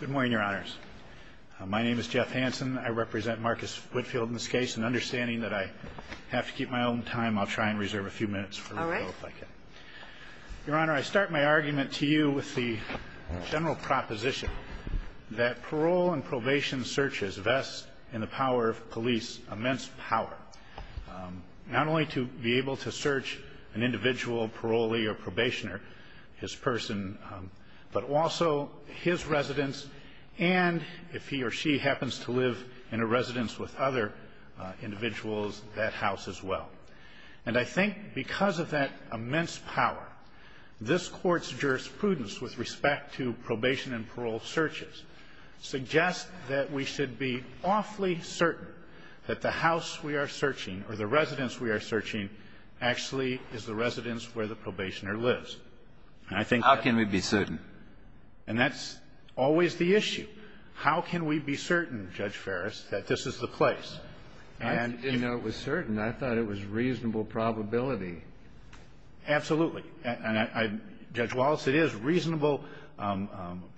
Good morning, Your Honors. My name is Jeff Hansen. I represent Marcus Whitfield in this case, and understanding that I have to keep my own time, I'll try and reserve a few minutes for a rebuttal if I can. Your Honor, I start my argument to you with the general proposition that parole and probation searches vest in the power of police immense power, not only to be able to search an individual parolee or probationer, his person, but also his residence and, if he or she happens to live in a residence with other individuals, that house as well. And I think because of that immense power, this Court's jurisprudence with respect to probation and parole searches suggests that we should be awfully certain that the house we are searching or the residence we are searching actually is the residence where the probationer lives. And I think that's always the issue. How can we be certain, Judge Ferris, that this is the place? And you know, it was certain. I thought it was reasonable probability. Absolutely. And, Judge Wallace, it is reasonable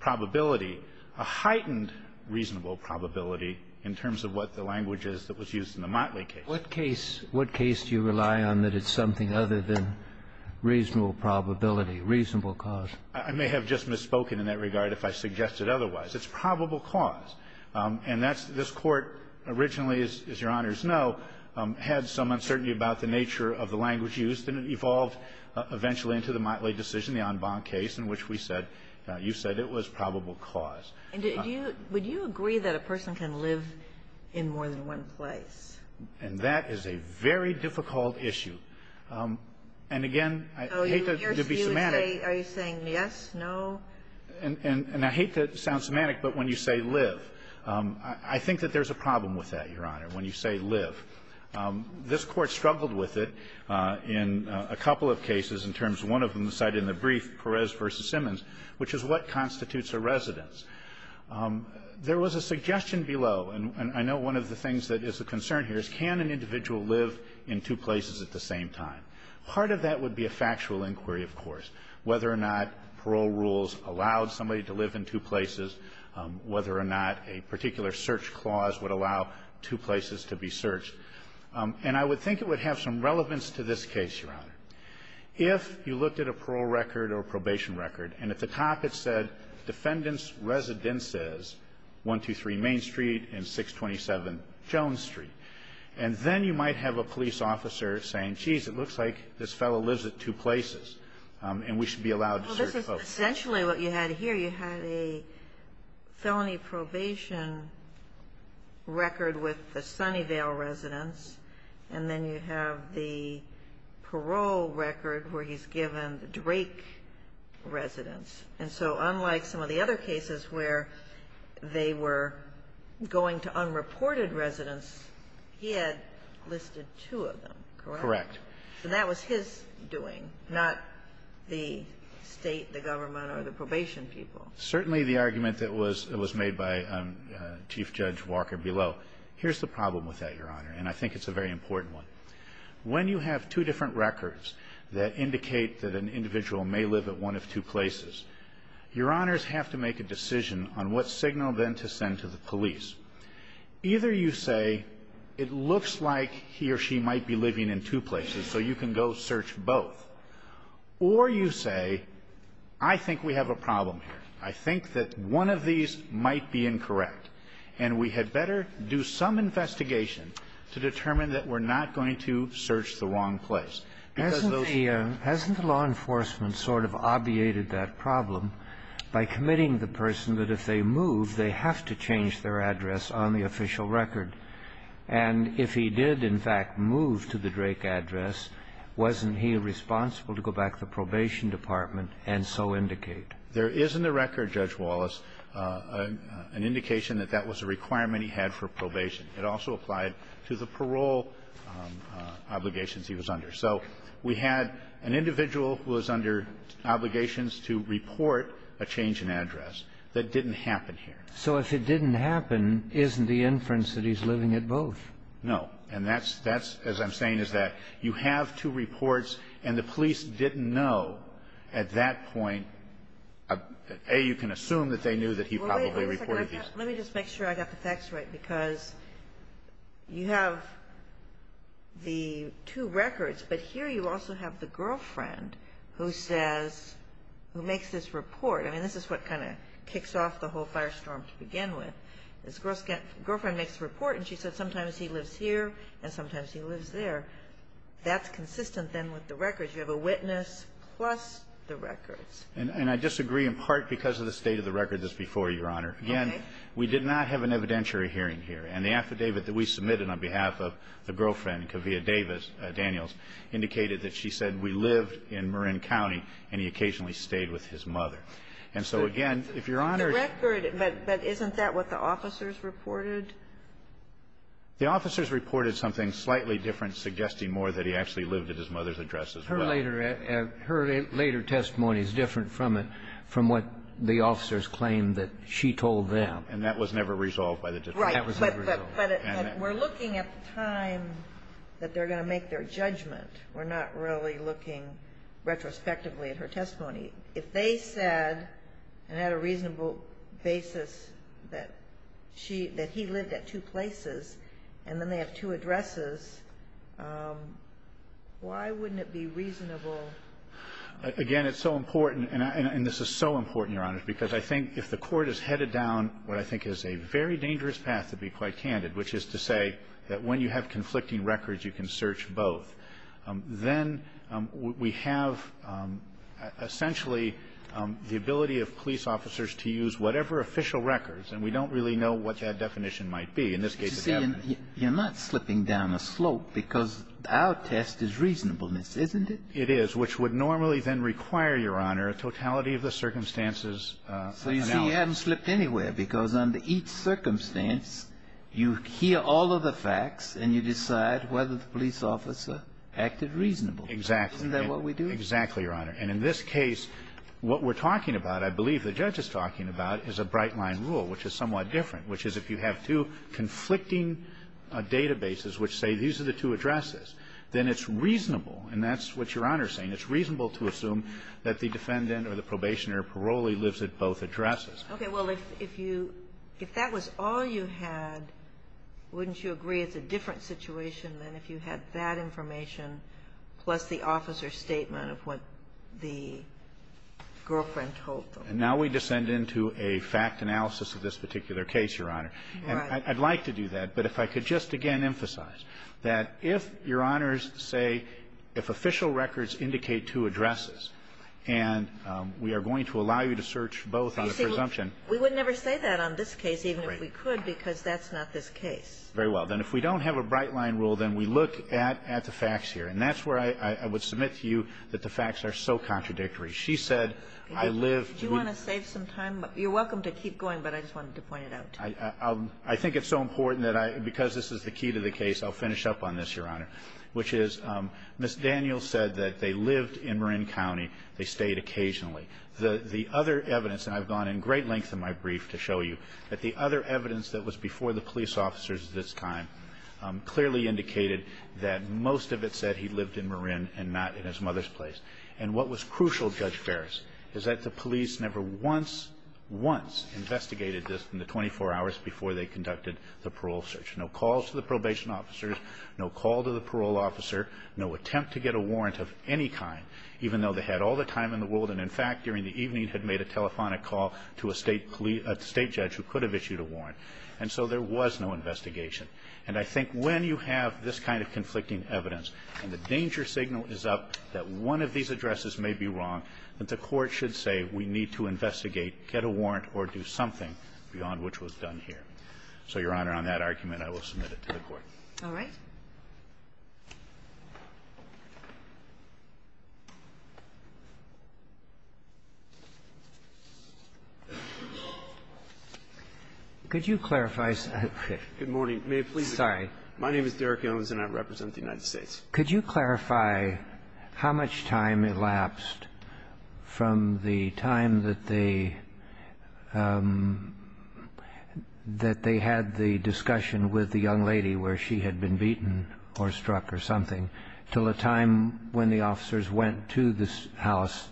probability, a heightened reasonable probability in terms of what the language is that was used in the Motley case. What case do you rely on that it's something other than reasonable probability, reasonable cause? I may have just misspoken in that regard if I suggested otherwise. It's probable cause. And that's this Court originally, as Your Honors know, had some uncertainty about the nature of the language used, and it evolved eventually into the Motley decision, the en banc case, in which we said you said it was probable cause. And would you agree that a person can live in more than one place? And that is a very difficult issue. And, again, I hate to be semantic. Are you saying yes, no? And I hate to sound semantic, but when you say live, I think that there's a problem with that, Your Honor, when you say live. This Court struggled with it in a couple of cases in terms of one of them cited in the brief, Perez v. Simmons, which is what constitutes a residence. There was a suggestion below, and I know one of the things that is a concern here is can an individual live in two places at the same time? Part of that would be a factual inquiry, of course, whether or not parole rules allowed somebody to live in two places, whether or not a particular search clause would allow two places to be searched. And I would think it would have some relevance to this case, Your Honor. If you looked at a parole record or a probation record, and at the top it said defendant's residence is 123 Main Street and 627 Jones Street. And then you might have a police officer saying, geez, it looks like this fellow lives at two places, and we should be allowed to search both. Essentially what you had here, you had a felony probation record with the Sunnyvale residence, and then you have the parole record where he's given the Drake residence. And so unlike some of the other cases where they were going to unreported residence, he had listed two of them, correct? Correct. So that was his doing, not the State, the government, or the probation people. Certainly the argument that was made by Chief Judge Walker below. Here's the problem with that, Your Honor, and I think it's a very important one. When you have two different records that indicate that an individual may live at one of two places, Your Honors have to make a decision on what signal then to send to the police. Either you say, it looks like he or she might be living in two places, so you can go search both. Or you say, I think we have a problem here. I think that one of these might be incorrect, and we had better do some investigation to determine that we're not going to search the wrong place. Hasn't the law enforcement sort of obviated that problem by committing the person that if they move, they have to change their address on the official record? And if he did, in fact, move to the Drake address, wasn't he responsible to go back to the probation department and so indicate? There is in the record, Judge Wallace, an indication that that was a requirement he had for probation. It also applied to the parole obligations he was under. So we had an individual who was under obligations to report a change in address. That didn't happen here. So if it didn't happen, isn't the inference that he's living at both? No. And that's as I'm saying is that you have two reports, and the police didn't know at that point, A, you can assume that they knew that he probably reported these. Let me just make sure I got the facts right, because you have the two records, but here you also have the girlfriend who says, who makes this report. I mean, this is what kind of kicks off the whole firestorm to begin with. This girlfriend makes a report, and she said sometimes he lives here and sometimes he lives there. That's consistent then with the records. You have a witness plus the records. And I disagree in part because of the state of the record that's before you, Your Honor. We did not have an evidentiary hearing here. And the affidavit that we submitted on behalf of the girlfriend, Kavia Daniels, indicated that she said we lived in Marin County and he occasionally stayed with his mother. And so, again, if Your Honor ---- The record, but isn't that what the officers reported? The officers reported something slightly different, suggesting more that he actually lived at his mother's address as well. Her later testimony is different from it, from what the officers claimed that she had told them. And that was never resolved by the defense. Right. But we're looking at the time that they're going to make their judgment. We're not really looking retrospectively at her testimony. If they said and had a reasonable basis that she ---- that he lived at two places and then they have two addresses, why wouldn't it be reasonable? Again, it's so important, and this is so important, Your Honor, because I think if the court is headed down what I think is a very dangerous path, to be quite candid, which is to say that when you have conflicting records, you can search both, then we have essentially the ability of police officers to use whatever official records, and we don't really know what that definition might be. In this case, it's evidence. You're not slipping down a slope because our test is reasonableness, isn't it? It is, which would normally then require, Your Honor, a totality of the circumstances analysed. So you see, you haven't slipped anywhere because under each circumstance, you hear all of the facts and you decide whether the police officer acted reasonable. Exactly. Isn't that what we do? Exactly, Your Honor. And in this case, what we're talking about, I believe the judge is talking about, is a bright-line rule, which is somewhat different, which is if you have two conflicting databases which say these are the two addresses, then it's reasonable, and that's what Your Honor is saying, it's reasonable to assume that the defendant or the probationer or parolee lives at both addresses. Okay. Well, if you – if that was all you had, wouldn't you agree it's a different situation than if you had that information plus the officer's statement of what the girlfriend told them? And now we descend into a fact analysis of this particular case, Your Honor. Right. And I'd like to do that, but if I could just again emphasize that if Your Honors say if official records indicate two addresses, and we are going to allow you to search both on a presumption. You see, we would never say that on this case, even if we could, because that's not this case. Right. Very well. Then if we don't have a bright-line rule, then we look at the facts here. And that's where I would submit to you that the facts are so contradictory. She said, I live – Do you want to save some time? You're welcome to keep going, but I just wanted to point it out to you. I think it's so important that I – because this is the key to the case, I'll finish up on this, Your Honor, which is Ms. Daniels said that they lived in Marin County. They stayed occasionally. The other evidence – and I've gone in great length in my brief to show you that the other evidence that was before the police officers at this time clearly indicated that most of it said he lived in Marin and not in his mother's place. And what was crucial, Judge Ferris, is that the police never once, once investigated this in the 24 hours before they conducted the parole search. No calls to the probation officers, no call to the parole officer, no attempt to get a warrant of any kind, even though they had all the time in the world and, in fact, during the evening had made a telephonic call to a State judge who could have issued a warrant. And so there was no investigation. And I think when you have this kind of conflicting evidence and the danger signal is up that one of these addresses may be wrong, that the Court should say we need to investigate, get a warrant, or do something beyond which was done here. So, Your Honor, on that argument, I will submit it to the Court. All right. Could you clarify something? Good morning. May it please the Court. Sorry. My name is Derek Owens, and I represent the United States. Could you clarify how much time elapsed from the time that they had the discussion with the young lady where she had been beaten or struck or something until the time when the officers went to the house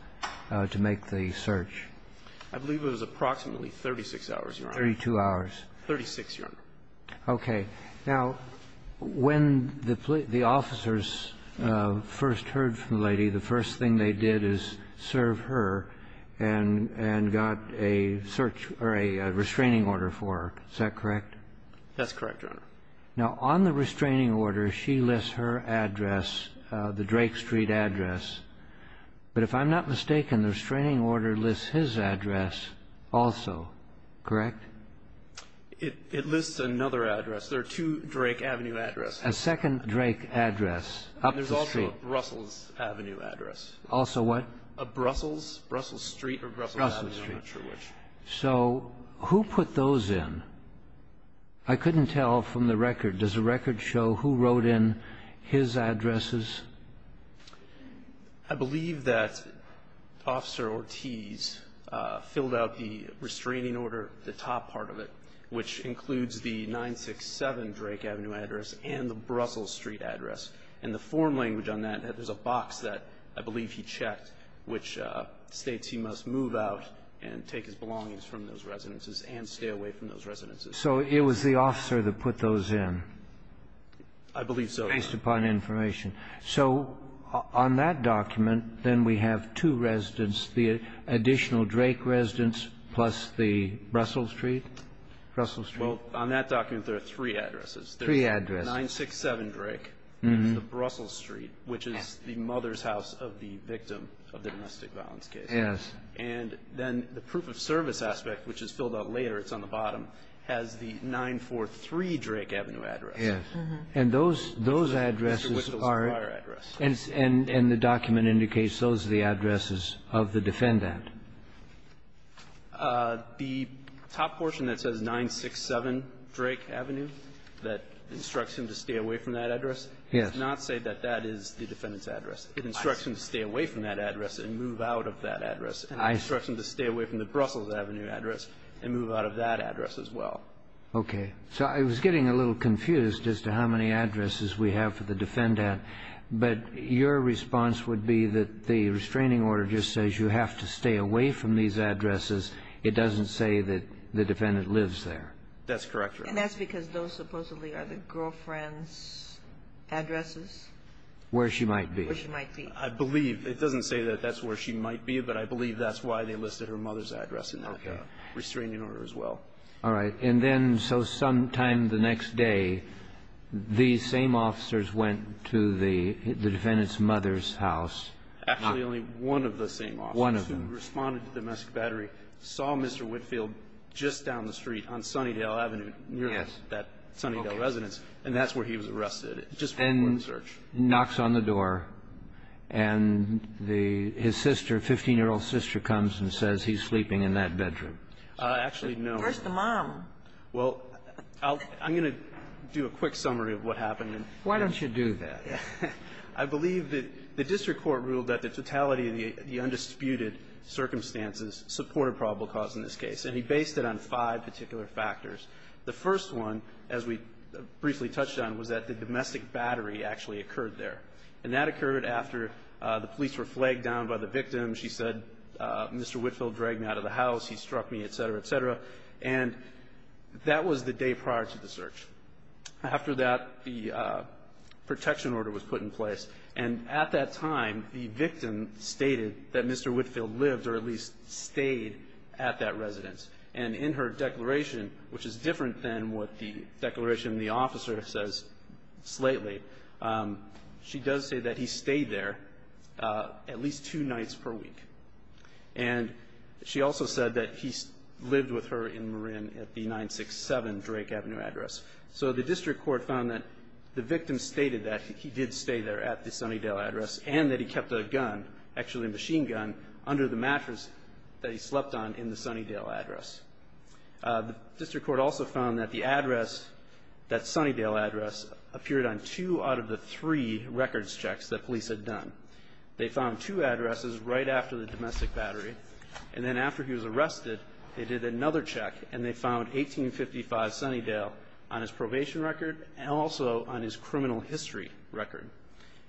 to make the search? I believe it was approximately 36 hours, Your Honor. 32 hours. 36, Your Honor. Okay. Now, when the officers first heard from the lady, the first thing they did is serve her and got a search or a restraining order for her. Is that correct? That's correct, Your Honor. Now, on the restraining order, she lists her address, the Drake Street address. But if I'm not mistaken, the restraining order lists his address also, correct? It lists another address. There are two Drake Avenue addresses. A second Drake address up the street. And there's also a Brussels Avenue address. Also what? A Brussels, Brussels Street or Brussels Avenue. Brussels Street. I'm not sure which. So who put those in? I couldn't tell from the record. Does the record show who wrote in his addresses? I believe that Officer Ortiz filled out the restraining order, the top part of it, which includes the 967 Drake Avenue address and the Brussels Street address. And the form language on that, there's a box that I believe he checked which states he must move out and take his belongings from those residences and stay away from those residences. So it was the officer that put those in? I believe so, Your Honor. Based upon information. So on that document, then we have two residents, the additional Drake residents plus the Brussels Street? Brussels Street? Well, on that document, there are three addresses. Three addresses. There's 967 Drake and the Brussels Street, which is the mother's house of the victim of the domestic violence case. Yes. And then the proof of service aspect, which is filled out later, it's on the bottom, has the 943 Drake Avenue address. Yes. And those addresses are the document indicates those are the addresses of the defendant. The top portion that says 967 Drake Avenue that instructs him to stay away from that address does not say that that is the defendant's address. It instructs him to stay away from that address and move out of that address. It instructs him to stay away from the Brussels Avenue address and move out of that address as well. Okay. So I was getting a little confused as to how many addresses we have for the defendant, but your response would be that the restraining order just says you have to stay away from these addresses. It doesn't say that the defendant lives there. That's correct, Your Honor. And that's because those supposedly are the girlfriend's addresses? Where she might be. Where she might be. I believe. It doesn't say that that's where she might be, but I believe that's why they listed her mother's address in that restraining order as well. All right. And then so sometime the next day, these same officers went to the defendant's mother's house. Actually, only one of the same officers. One of them. Who responded to domestic battery, saw Mr. Whitfield just down the street on Sunnydale Avenue, near that Sunnydale residence, and that's where he was arrested. And knocks on the door, and his sister, 15-year-old sister, comes and says he's sleeping in that bedroom. Actually, no. Where's the mom? Well, I'm going to do a quick summary of what happened. Why don't you do that? I believe that the district court ruled that the totality of the undisputed circumstances supported probable cause in this case. And he based it on five particular factors. The first one, as we briefly touched on, was that the domestic battery actually occurred there. And that occurred after the police were flagged down by the victim. She said, Mr. Whitfield dragged me out of the house. He struck me, et cetera, et cetera. And that was the day prior to the search. After that, the protection order was put in place. And at that time, the victim stated that Mr. Whitfield lived, or at least stayed, at that residence. And in her declaration, which is different than what the declaration in the officer says slightly, she does say that he stayed there at least two nights per week. And she also said that he lived with her in Marin at the 967 Drake Avenue address. So the district court found that the victim stated that he did stay there at the Sunnydale address and that he kept a gun, actually a machine gun, under the mattress that he slept on in the Sunnydale address. The district court also found that the address, that Sunnydale address, appeared on two out of the three records checks that police had done. They found two addresses right after the domestic battery. And then after he was arrested, they did another check, and they found 1855 Sunnydale on his probation record and also on his criminal history record.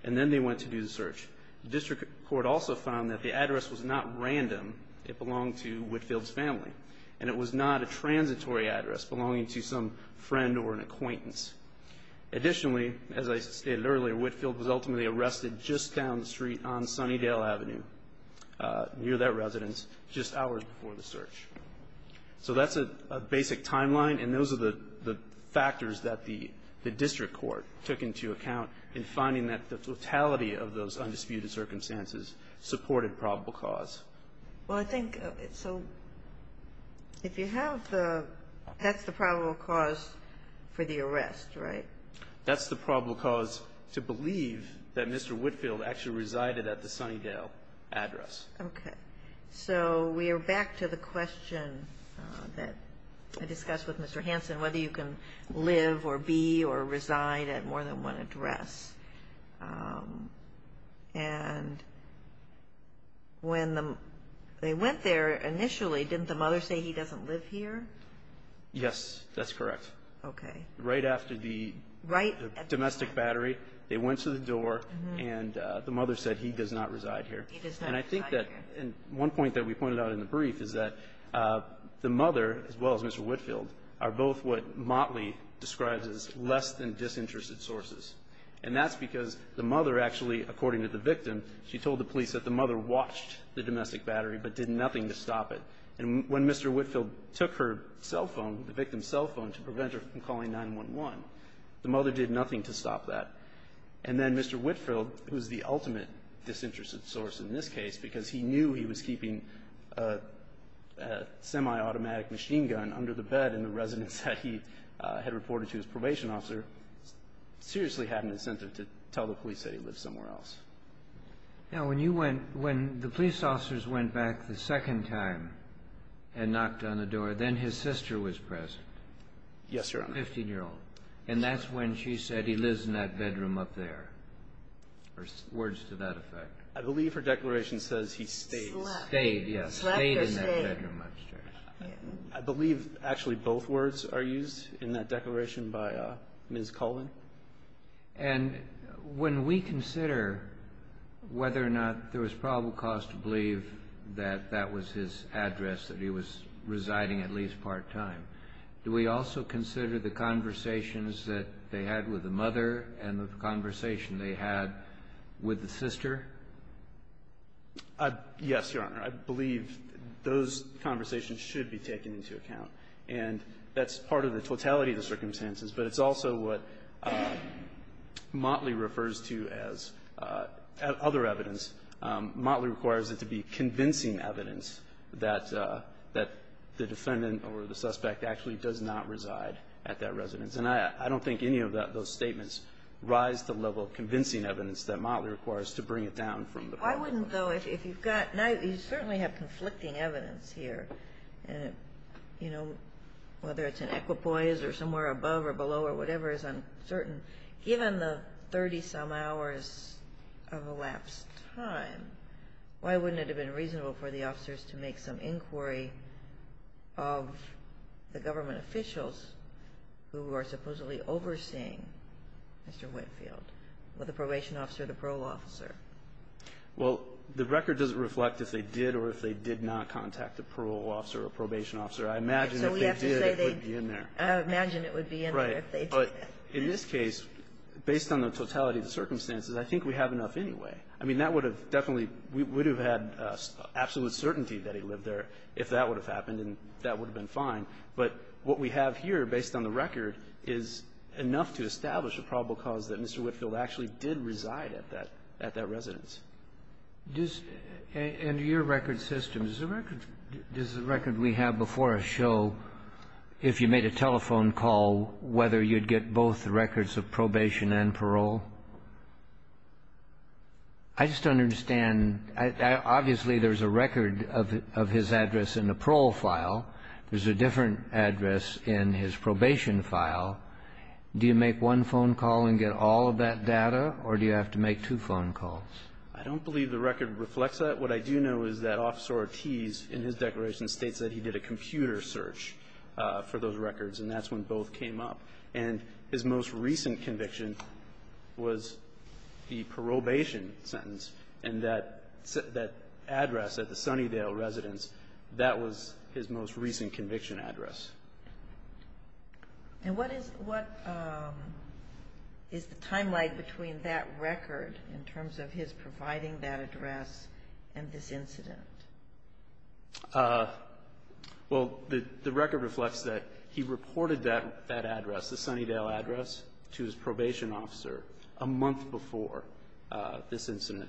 And then they went to do the search. The district court also found that the address was not random. It belonged to Whitfield's family. And it was not a transitory address belonging to some friend or an acquaintance. Additionally, as I stated earlier, Whitfield was ultimately arrested just down the street on Sunnydale Avenue, near that residence, just hours before the search. So that's a basic timeline, and those are the factors that the district court took into account in finding that the totality of those undisputed circumstances supported probable cause. Well, I think so if you have the that's the probable cause for the arrest, right? That's the probable cause to believe that Mr. Whitfield actually resided at the Sunnydale address. Okay. So we are back to the question that I discussed with Mr. Hansen, whether you can live or be or reside at more than one address. And when they went there initially, didn't the mother say he doesn't live here? Yes, that's correct. Okay. Right after the domestic battery, they went to the door, and the mother said he does not reside here. He does not reside here. And I think that one point that we pointed out in the brief is that the mother, as well as Mr. Whitfield, are both what Motley describes as less-than-disinterested sources. And that's because the mother actually, according to the victim, she told the police that the mother watched the domestic battery but did nothing to stop it. And when Mr. Whitfield took her cell phone, the victim's cell phone, to prevent her from calling 911, the mother did nothing to stop that. And then Mr. Whitfield, who is the ultimate disinterested source in this case because he knew he was keeping a semi-automatic machine gun under the bed in the residence that he had reported to his probation officer, seriously had an incentive to tell the police that he lived somewhere else. Now, when you went, when the police officers went back the second time and knocked on the door, then his sister was present. Yes, Your Honor. Fifteen-year-old. And that's when she said he lives in that bedroom up there. Or words to that effect. I believe her declaration says he stayed. Slept. Stayed, yes. Slept or stayed. Stayed in that bedroom upstairs. I believe actually both words are used in that declaration by Ms. Colvin. And when we consider whether or not there was probable cause to believe that that was his address, that he was residing at least part-time, do we also consider the conversations that they had with the mother and the conversation they had with the sister? Yes, Your Honor. I believe those conversations should be taken into account. And that's part of the totality of the circumstances, but it's also what Motley refers to as other evidence. Motley requires it to be convincing evidence that the defendant or the suspect actually does not reside at that residence. And I don't think any of those statements rise to the level of convincing evidence that Motley requires to bring it down from the problem. Why wouldn't, though, if you've got – you certainly have conflicting evidence here, and, you know, whether it's in equipoise or somewhere above or below or whatever is uncertain. Given the 30-some hours of elapsed time, why wouldn't it have been reasonable for the officers to make some inquiry of the government officials who are Well, the record doesn't reflect if they did or if they did not contact a parole officer or a probation officer. I imagine if they did, it would be in there. I imagine it would be in there if they did. Right. But in this case, based on the totality of the circumstances, I think we have enough anyway. I mean, that would have definitely – we would have had absolute certainty that he lived there if that would have happened, and that would have been fine. But what we have here, based on the record, is enough to establish a probable cause that Mr. Whitfield actually did reside at that – at that residence. Does – and your record system, does the record – does the record we have before us show, if you made a telephone call, whether you'd get both records of probation and parole? I just don't understand. Obviously, there's a record of his address in the parole file. There's a different address in his probation file. Do you make one phone call and get all of that data, or do you have to make two phone calls? I don't believe the record reflects that. What I do know is that Officer Ortiz, in his declaration, states that he did a computer search for those records, and that's when both came up. And his most recent conviction was the probation sentence, and that address at the Sunnydale residence, that was his most recent conviction address. And what is – what is the timeline between that record, in terms of his providing that address, and this incident? Well, the record reflects that he reported that address, the Sunnydale address, to his probation officer a month before this incident.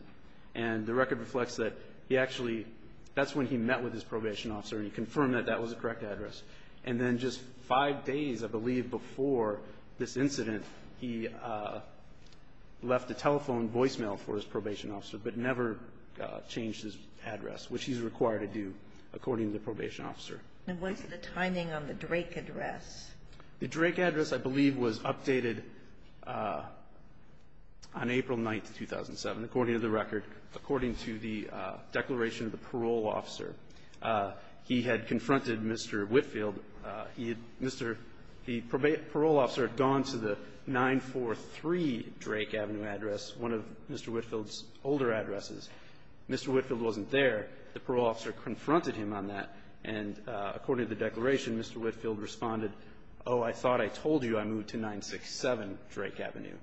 And the record reflects that he actually – that's when he met with his probation officer, and he confirmed that that was the correct address. And then just five days, I believe, before this incident, he left a telephone voicemail for his probation officer, but never changed his address, which he's required to do, according to the probation officer. And what's the timing on the Drake address? The Drake address, I believe, was updated on April 9th, 2007, according to the record, according to the declaration of the parole officer. He had confronted Mr. Whitfield. He had – Mr. – the parole officer had gone to the 943 Drake Avenue address, one of Mr. Whitfield's older addresses. Mr. Whitfield wasn't there. The parole officer confronted him on that, and according to the declaration, Mr. Whitfield responded, oh, I thought I told you I moved to 967 Drake Avenue.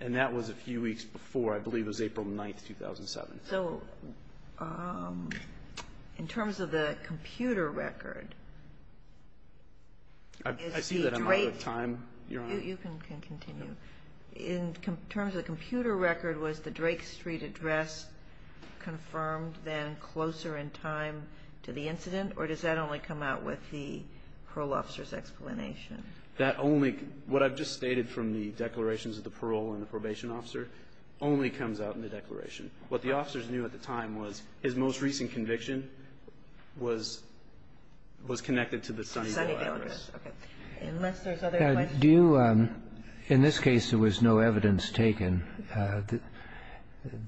And that was a few weeks before. I believe it was April 9th, 2007. So in terms of the computer record, is the Drake – I see that I'm out of time, Your Honor. You can continue. In terms of the computer record, was the Drake Street address confirmed then closer in time to the incident, or does that only come out with the parole officer's explanation? That only – what I've just stated from the declarations of the parole and the probation officer only comes out in the declaration. What the officers knew at the time was his most recent conviction was connected to the Sunnyvale address. The Sunnyvale address. Okay. Unless there's other questions. Do you – in this case, there was no evidence taken.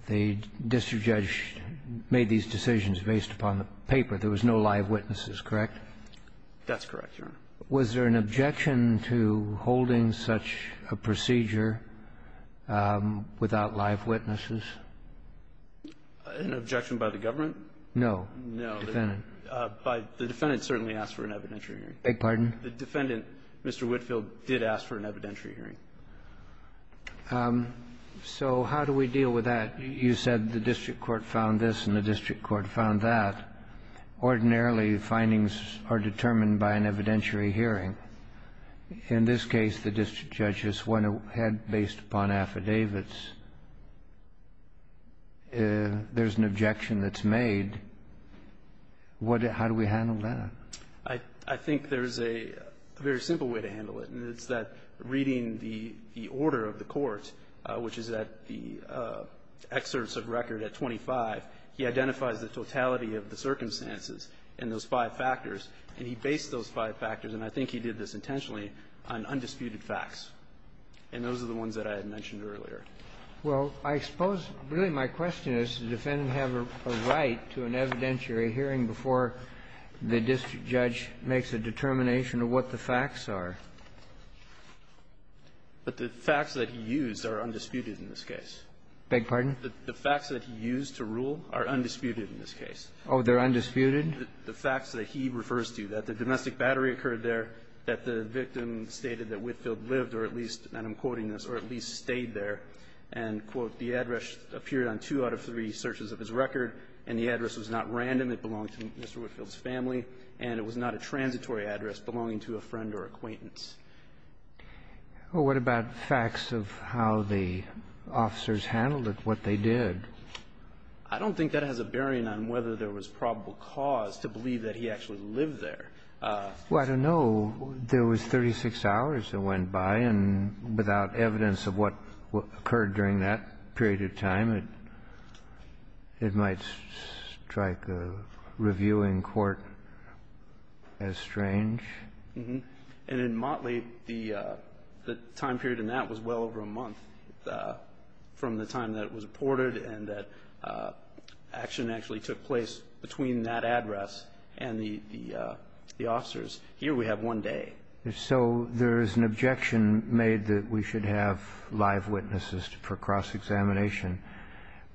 The district judge made these decisions based upon the paper. There was no live witnesses, correct? That's correct, Your Honor. Was there an objection to holding such a procedure without live witnesses? An objection by the government? No. No. The defendant. The defendant certainly asked for an evidentiary hearing. Beg your pardon? The defendant, Mr. Whitfield, did ask for an evidentiary hearing. So how do we deal with that? You said the district court found this and the district court found that. Ordinarily, findings are determined by an evidentiary hearing. In this case, the district judge has went ahead based upon affidavits. There's an objection that's made. What – how do we handle that? I think there's a very simple way to handle it, and it's that reading the order of the court, which is at the excerpts of record at 25, he identifies the totality of the circumstances in those five factors, and he based those five factors, and I think he did this intentionally, on undisputed facts. And those are the ones that I had mentioned earlier. Well, I suppose really my question is, does the defendant have a right to an evidentiary hearing before the district judge makes a determination of what the facts are? But the facts that he used are undisputed in this case. Beg your pardon? The facts that he used to rule are undisputed in this case. Oh, they're undisputed? The facts that he refers to, that the domestic battery occurred there, that the victim stated that Whitfield lived, or at least, and I'm quoting this, or at least stayed there, and, quote, the address appeared on two out of three searches of his record, and the address was not random, it belonged to Mr. Whitfield's family, and it was not a transitory address belonging to a friend or acquaintance. Well, what about facts of how the officers handled it, what they did? I don't think that has a bearing on whether there was probable cause to believe that he actually lived there. Well, I don't know. There was 36 hours that went by, and without evidence of what occurred during that period of time, it might strike a review in court as strange. And in Motley, the time period in that was well over a month from the time that it was reported and that action actually took place between that address and the officers. Here we have one day. So there is an objection made that we should have live witnesses for cross-examination.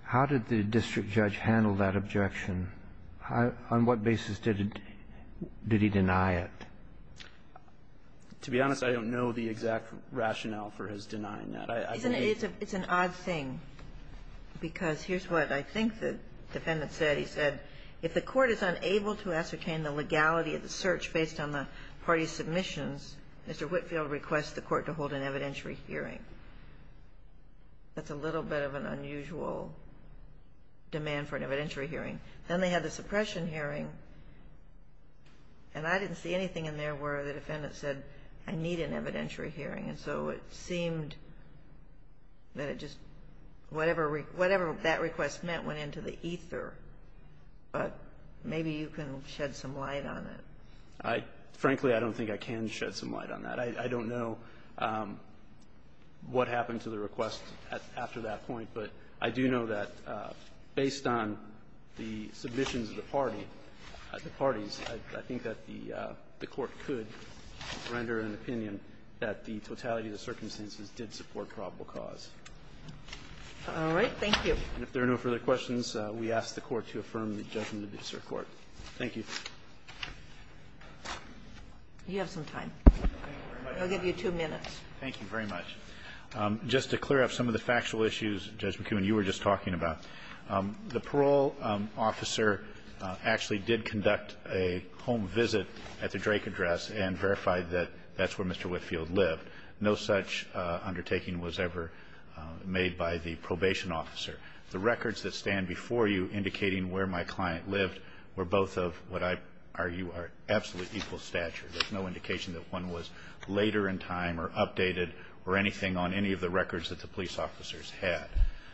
How did the district judge handle that objection? On what basis did he deny it? To be honest, I don't know the exact rationale for his denying that. It's an odd thing, because here's what I think the defendant said. He said, if the court is unable to ascertain the legality of the search based on the party's submissions, Mr. Whitfield requests the court to hold an evidentiary hearing. That's a little bit of an unusual demand for an evidentiary hearing. Then they had the suppression hearing, and I didn't see anything in there where the defendant said, I need an evidentiary hearing. And so it seemed that it just, whatever that request meant went into the ether. But maybe you can shed some light on it. I, frankly, I don't think I can shed some light on that. I don't know what happened to the request after that point, but I do know that based on the submissions of the party, the party's, I think that the court could render an opinion that the totality of the circumstances did support probable cause. All right. Thank you. And if there are no further questions, we ask the Court to affirm the judgment of this Court. Thank you. You have some time. I'll give you two minutes. Thank you very much. Just to clear up some of the factual issues, Judge McKeown, you were just talking about, the parole officer actually did conduct a home visit at the Drake address and verified that that's where Mr. Whitfield lived. No such undertaking was ever made by the probation officer. The records that stand before you indicating where my client lived were both of what I argue are absolute equal stature. There's no indication that one was later in time or updated or anything on any of the records that the police officers had.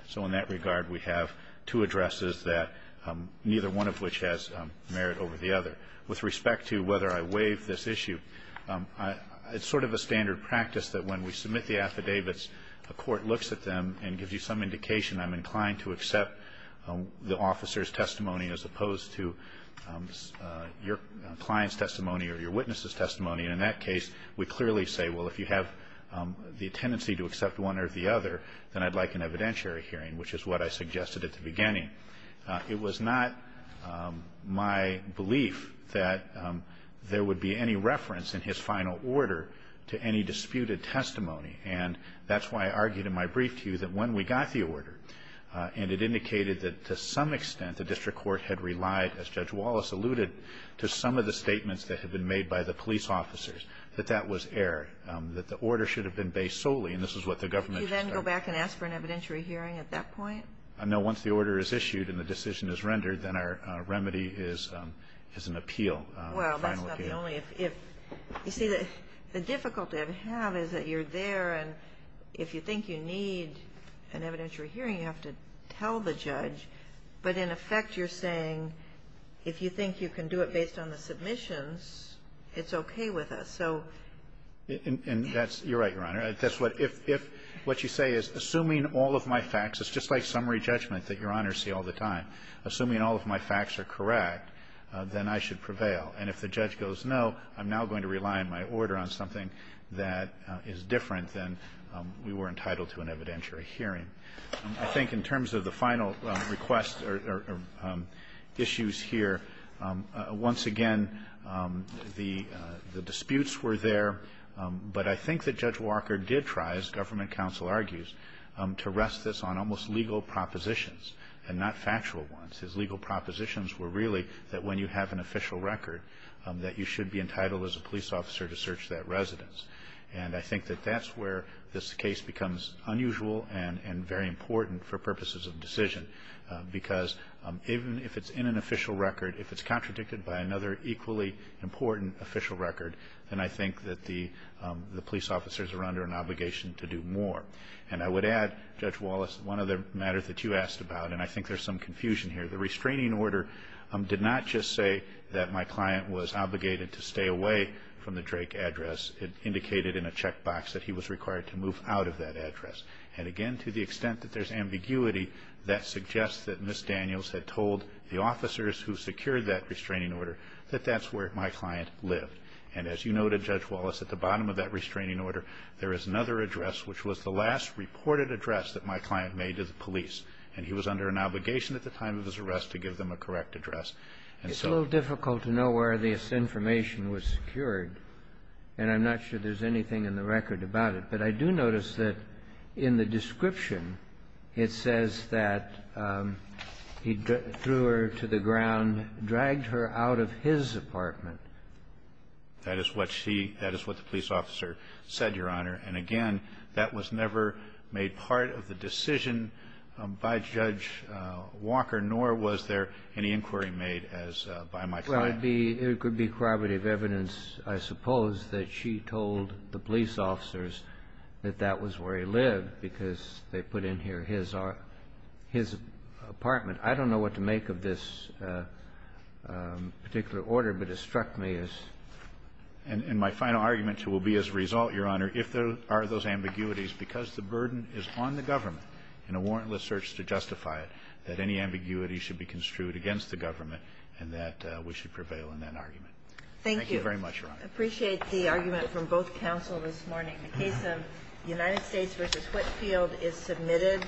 So in that regard, we have two addresses that neither one of which has merit over the other. With respect to whether I waive this issue, it's sort of a standard practice that when we submit the affidavits, a court looks at them and gives you some indication I'm inclined to accept the officer's testimony as opposed to your client's testimony. In that case, we clearly say, well, if you have the tendency to accept one or the other, then I'd like an evidentiary hearing, which is what I suggested at the beginning. It was not my belief that there would be any reference in his final order to any disputed testimony. And that's why I argued in my brief to you that when we got the order and it indicated that to some extent the district court had relied, as Judge Wallace alluded, to some of the statements that had been made by the police officers, that that was error, that the order should have been based solely, and this is what the government should have done. Can you then go back and ask for an evidentiary hearing at that point? No. Once the order is issued and the decision is rendered, then our remedy is an appeal, a final appeal. Well, that's not the only. You see, the difficulty I have is that you're there, and if you think you need an evidentiary hearing, you have to tell the judge. But in effect, you're saying if you think you can do it based on the submissions, it's okay with us. So you're right, Your Honor. If what you say is assuming all of my facts, it's just like summary judgment that Your Honors see all the time. Assuming all of my facts are correct, then I should prevail. And if the judge goes no, I'm now going to rely on my order on something that is different than we were entitled to an evidentiary hearing. I think in terms of the final request or issues here, once again, the disputes were there, but I think that Judge Walker did try, as government counsel argues, to rest this on almost legal propositions and not factual ones. His legal propositions were really that when you have an official record, that you should be entitled as a police officer to search that residence. And I think that that's where this case becomes unusual and very important for purposes of decision. Because even if it's in an official record, if it's contradicted by another equally important official record, then I think that the police officers are under an obligation to do more. And I would add, Judge Wallace, one other matter that you asked about, and I think there's some confusion here. The restraining order did not just say that my client was obligated to stay away from the Drake address. It indicated in a checkbox that he was required to move out of that address. And again, to the extent that there's ambiguity, that suggests that Ms. Daniels had told the officers who secured that restraining order that that's where my client lived. And as you noted, Judge Wallace, at the bottom of that restraining order, there is another address which was the last reported address that my client made to the police, and he was under an obligation at the time of his arrest to give them a correct address. It's a little difficult to know where this information was secured, and I'm not sure there's anything in the record about it. But I do notice that in the description, it says that he threw her to the ground, dragged her out of his apartment. That is what she – that is what the police officer said, Your Honor. And again, that was never made part of the decision by Judge Walker, nor was there any inquiry made as by my client. Well, it would be corroborative evidence, I suppose, that she told the police officers that that was where he lived, because they put in here his apartment. I don't know what to make of this particular order, but it struck me as – And my final argument will be as a result, Your Honor, if there are those ambiguities, because the burden is on the government in a warrantless search to justify it, that any ambiguity should be construed against the government and that we should prevail in that argument. Thank you very much, Your Honor. Thank you. I appreciate the argument from both counsel this morning. The case of United States v. Whitefield is submitted.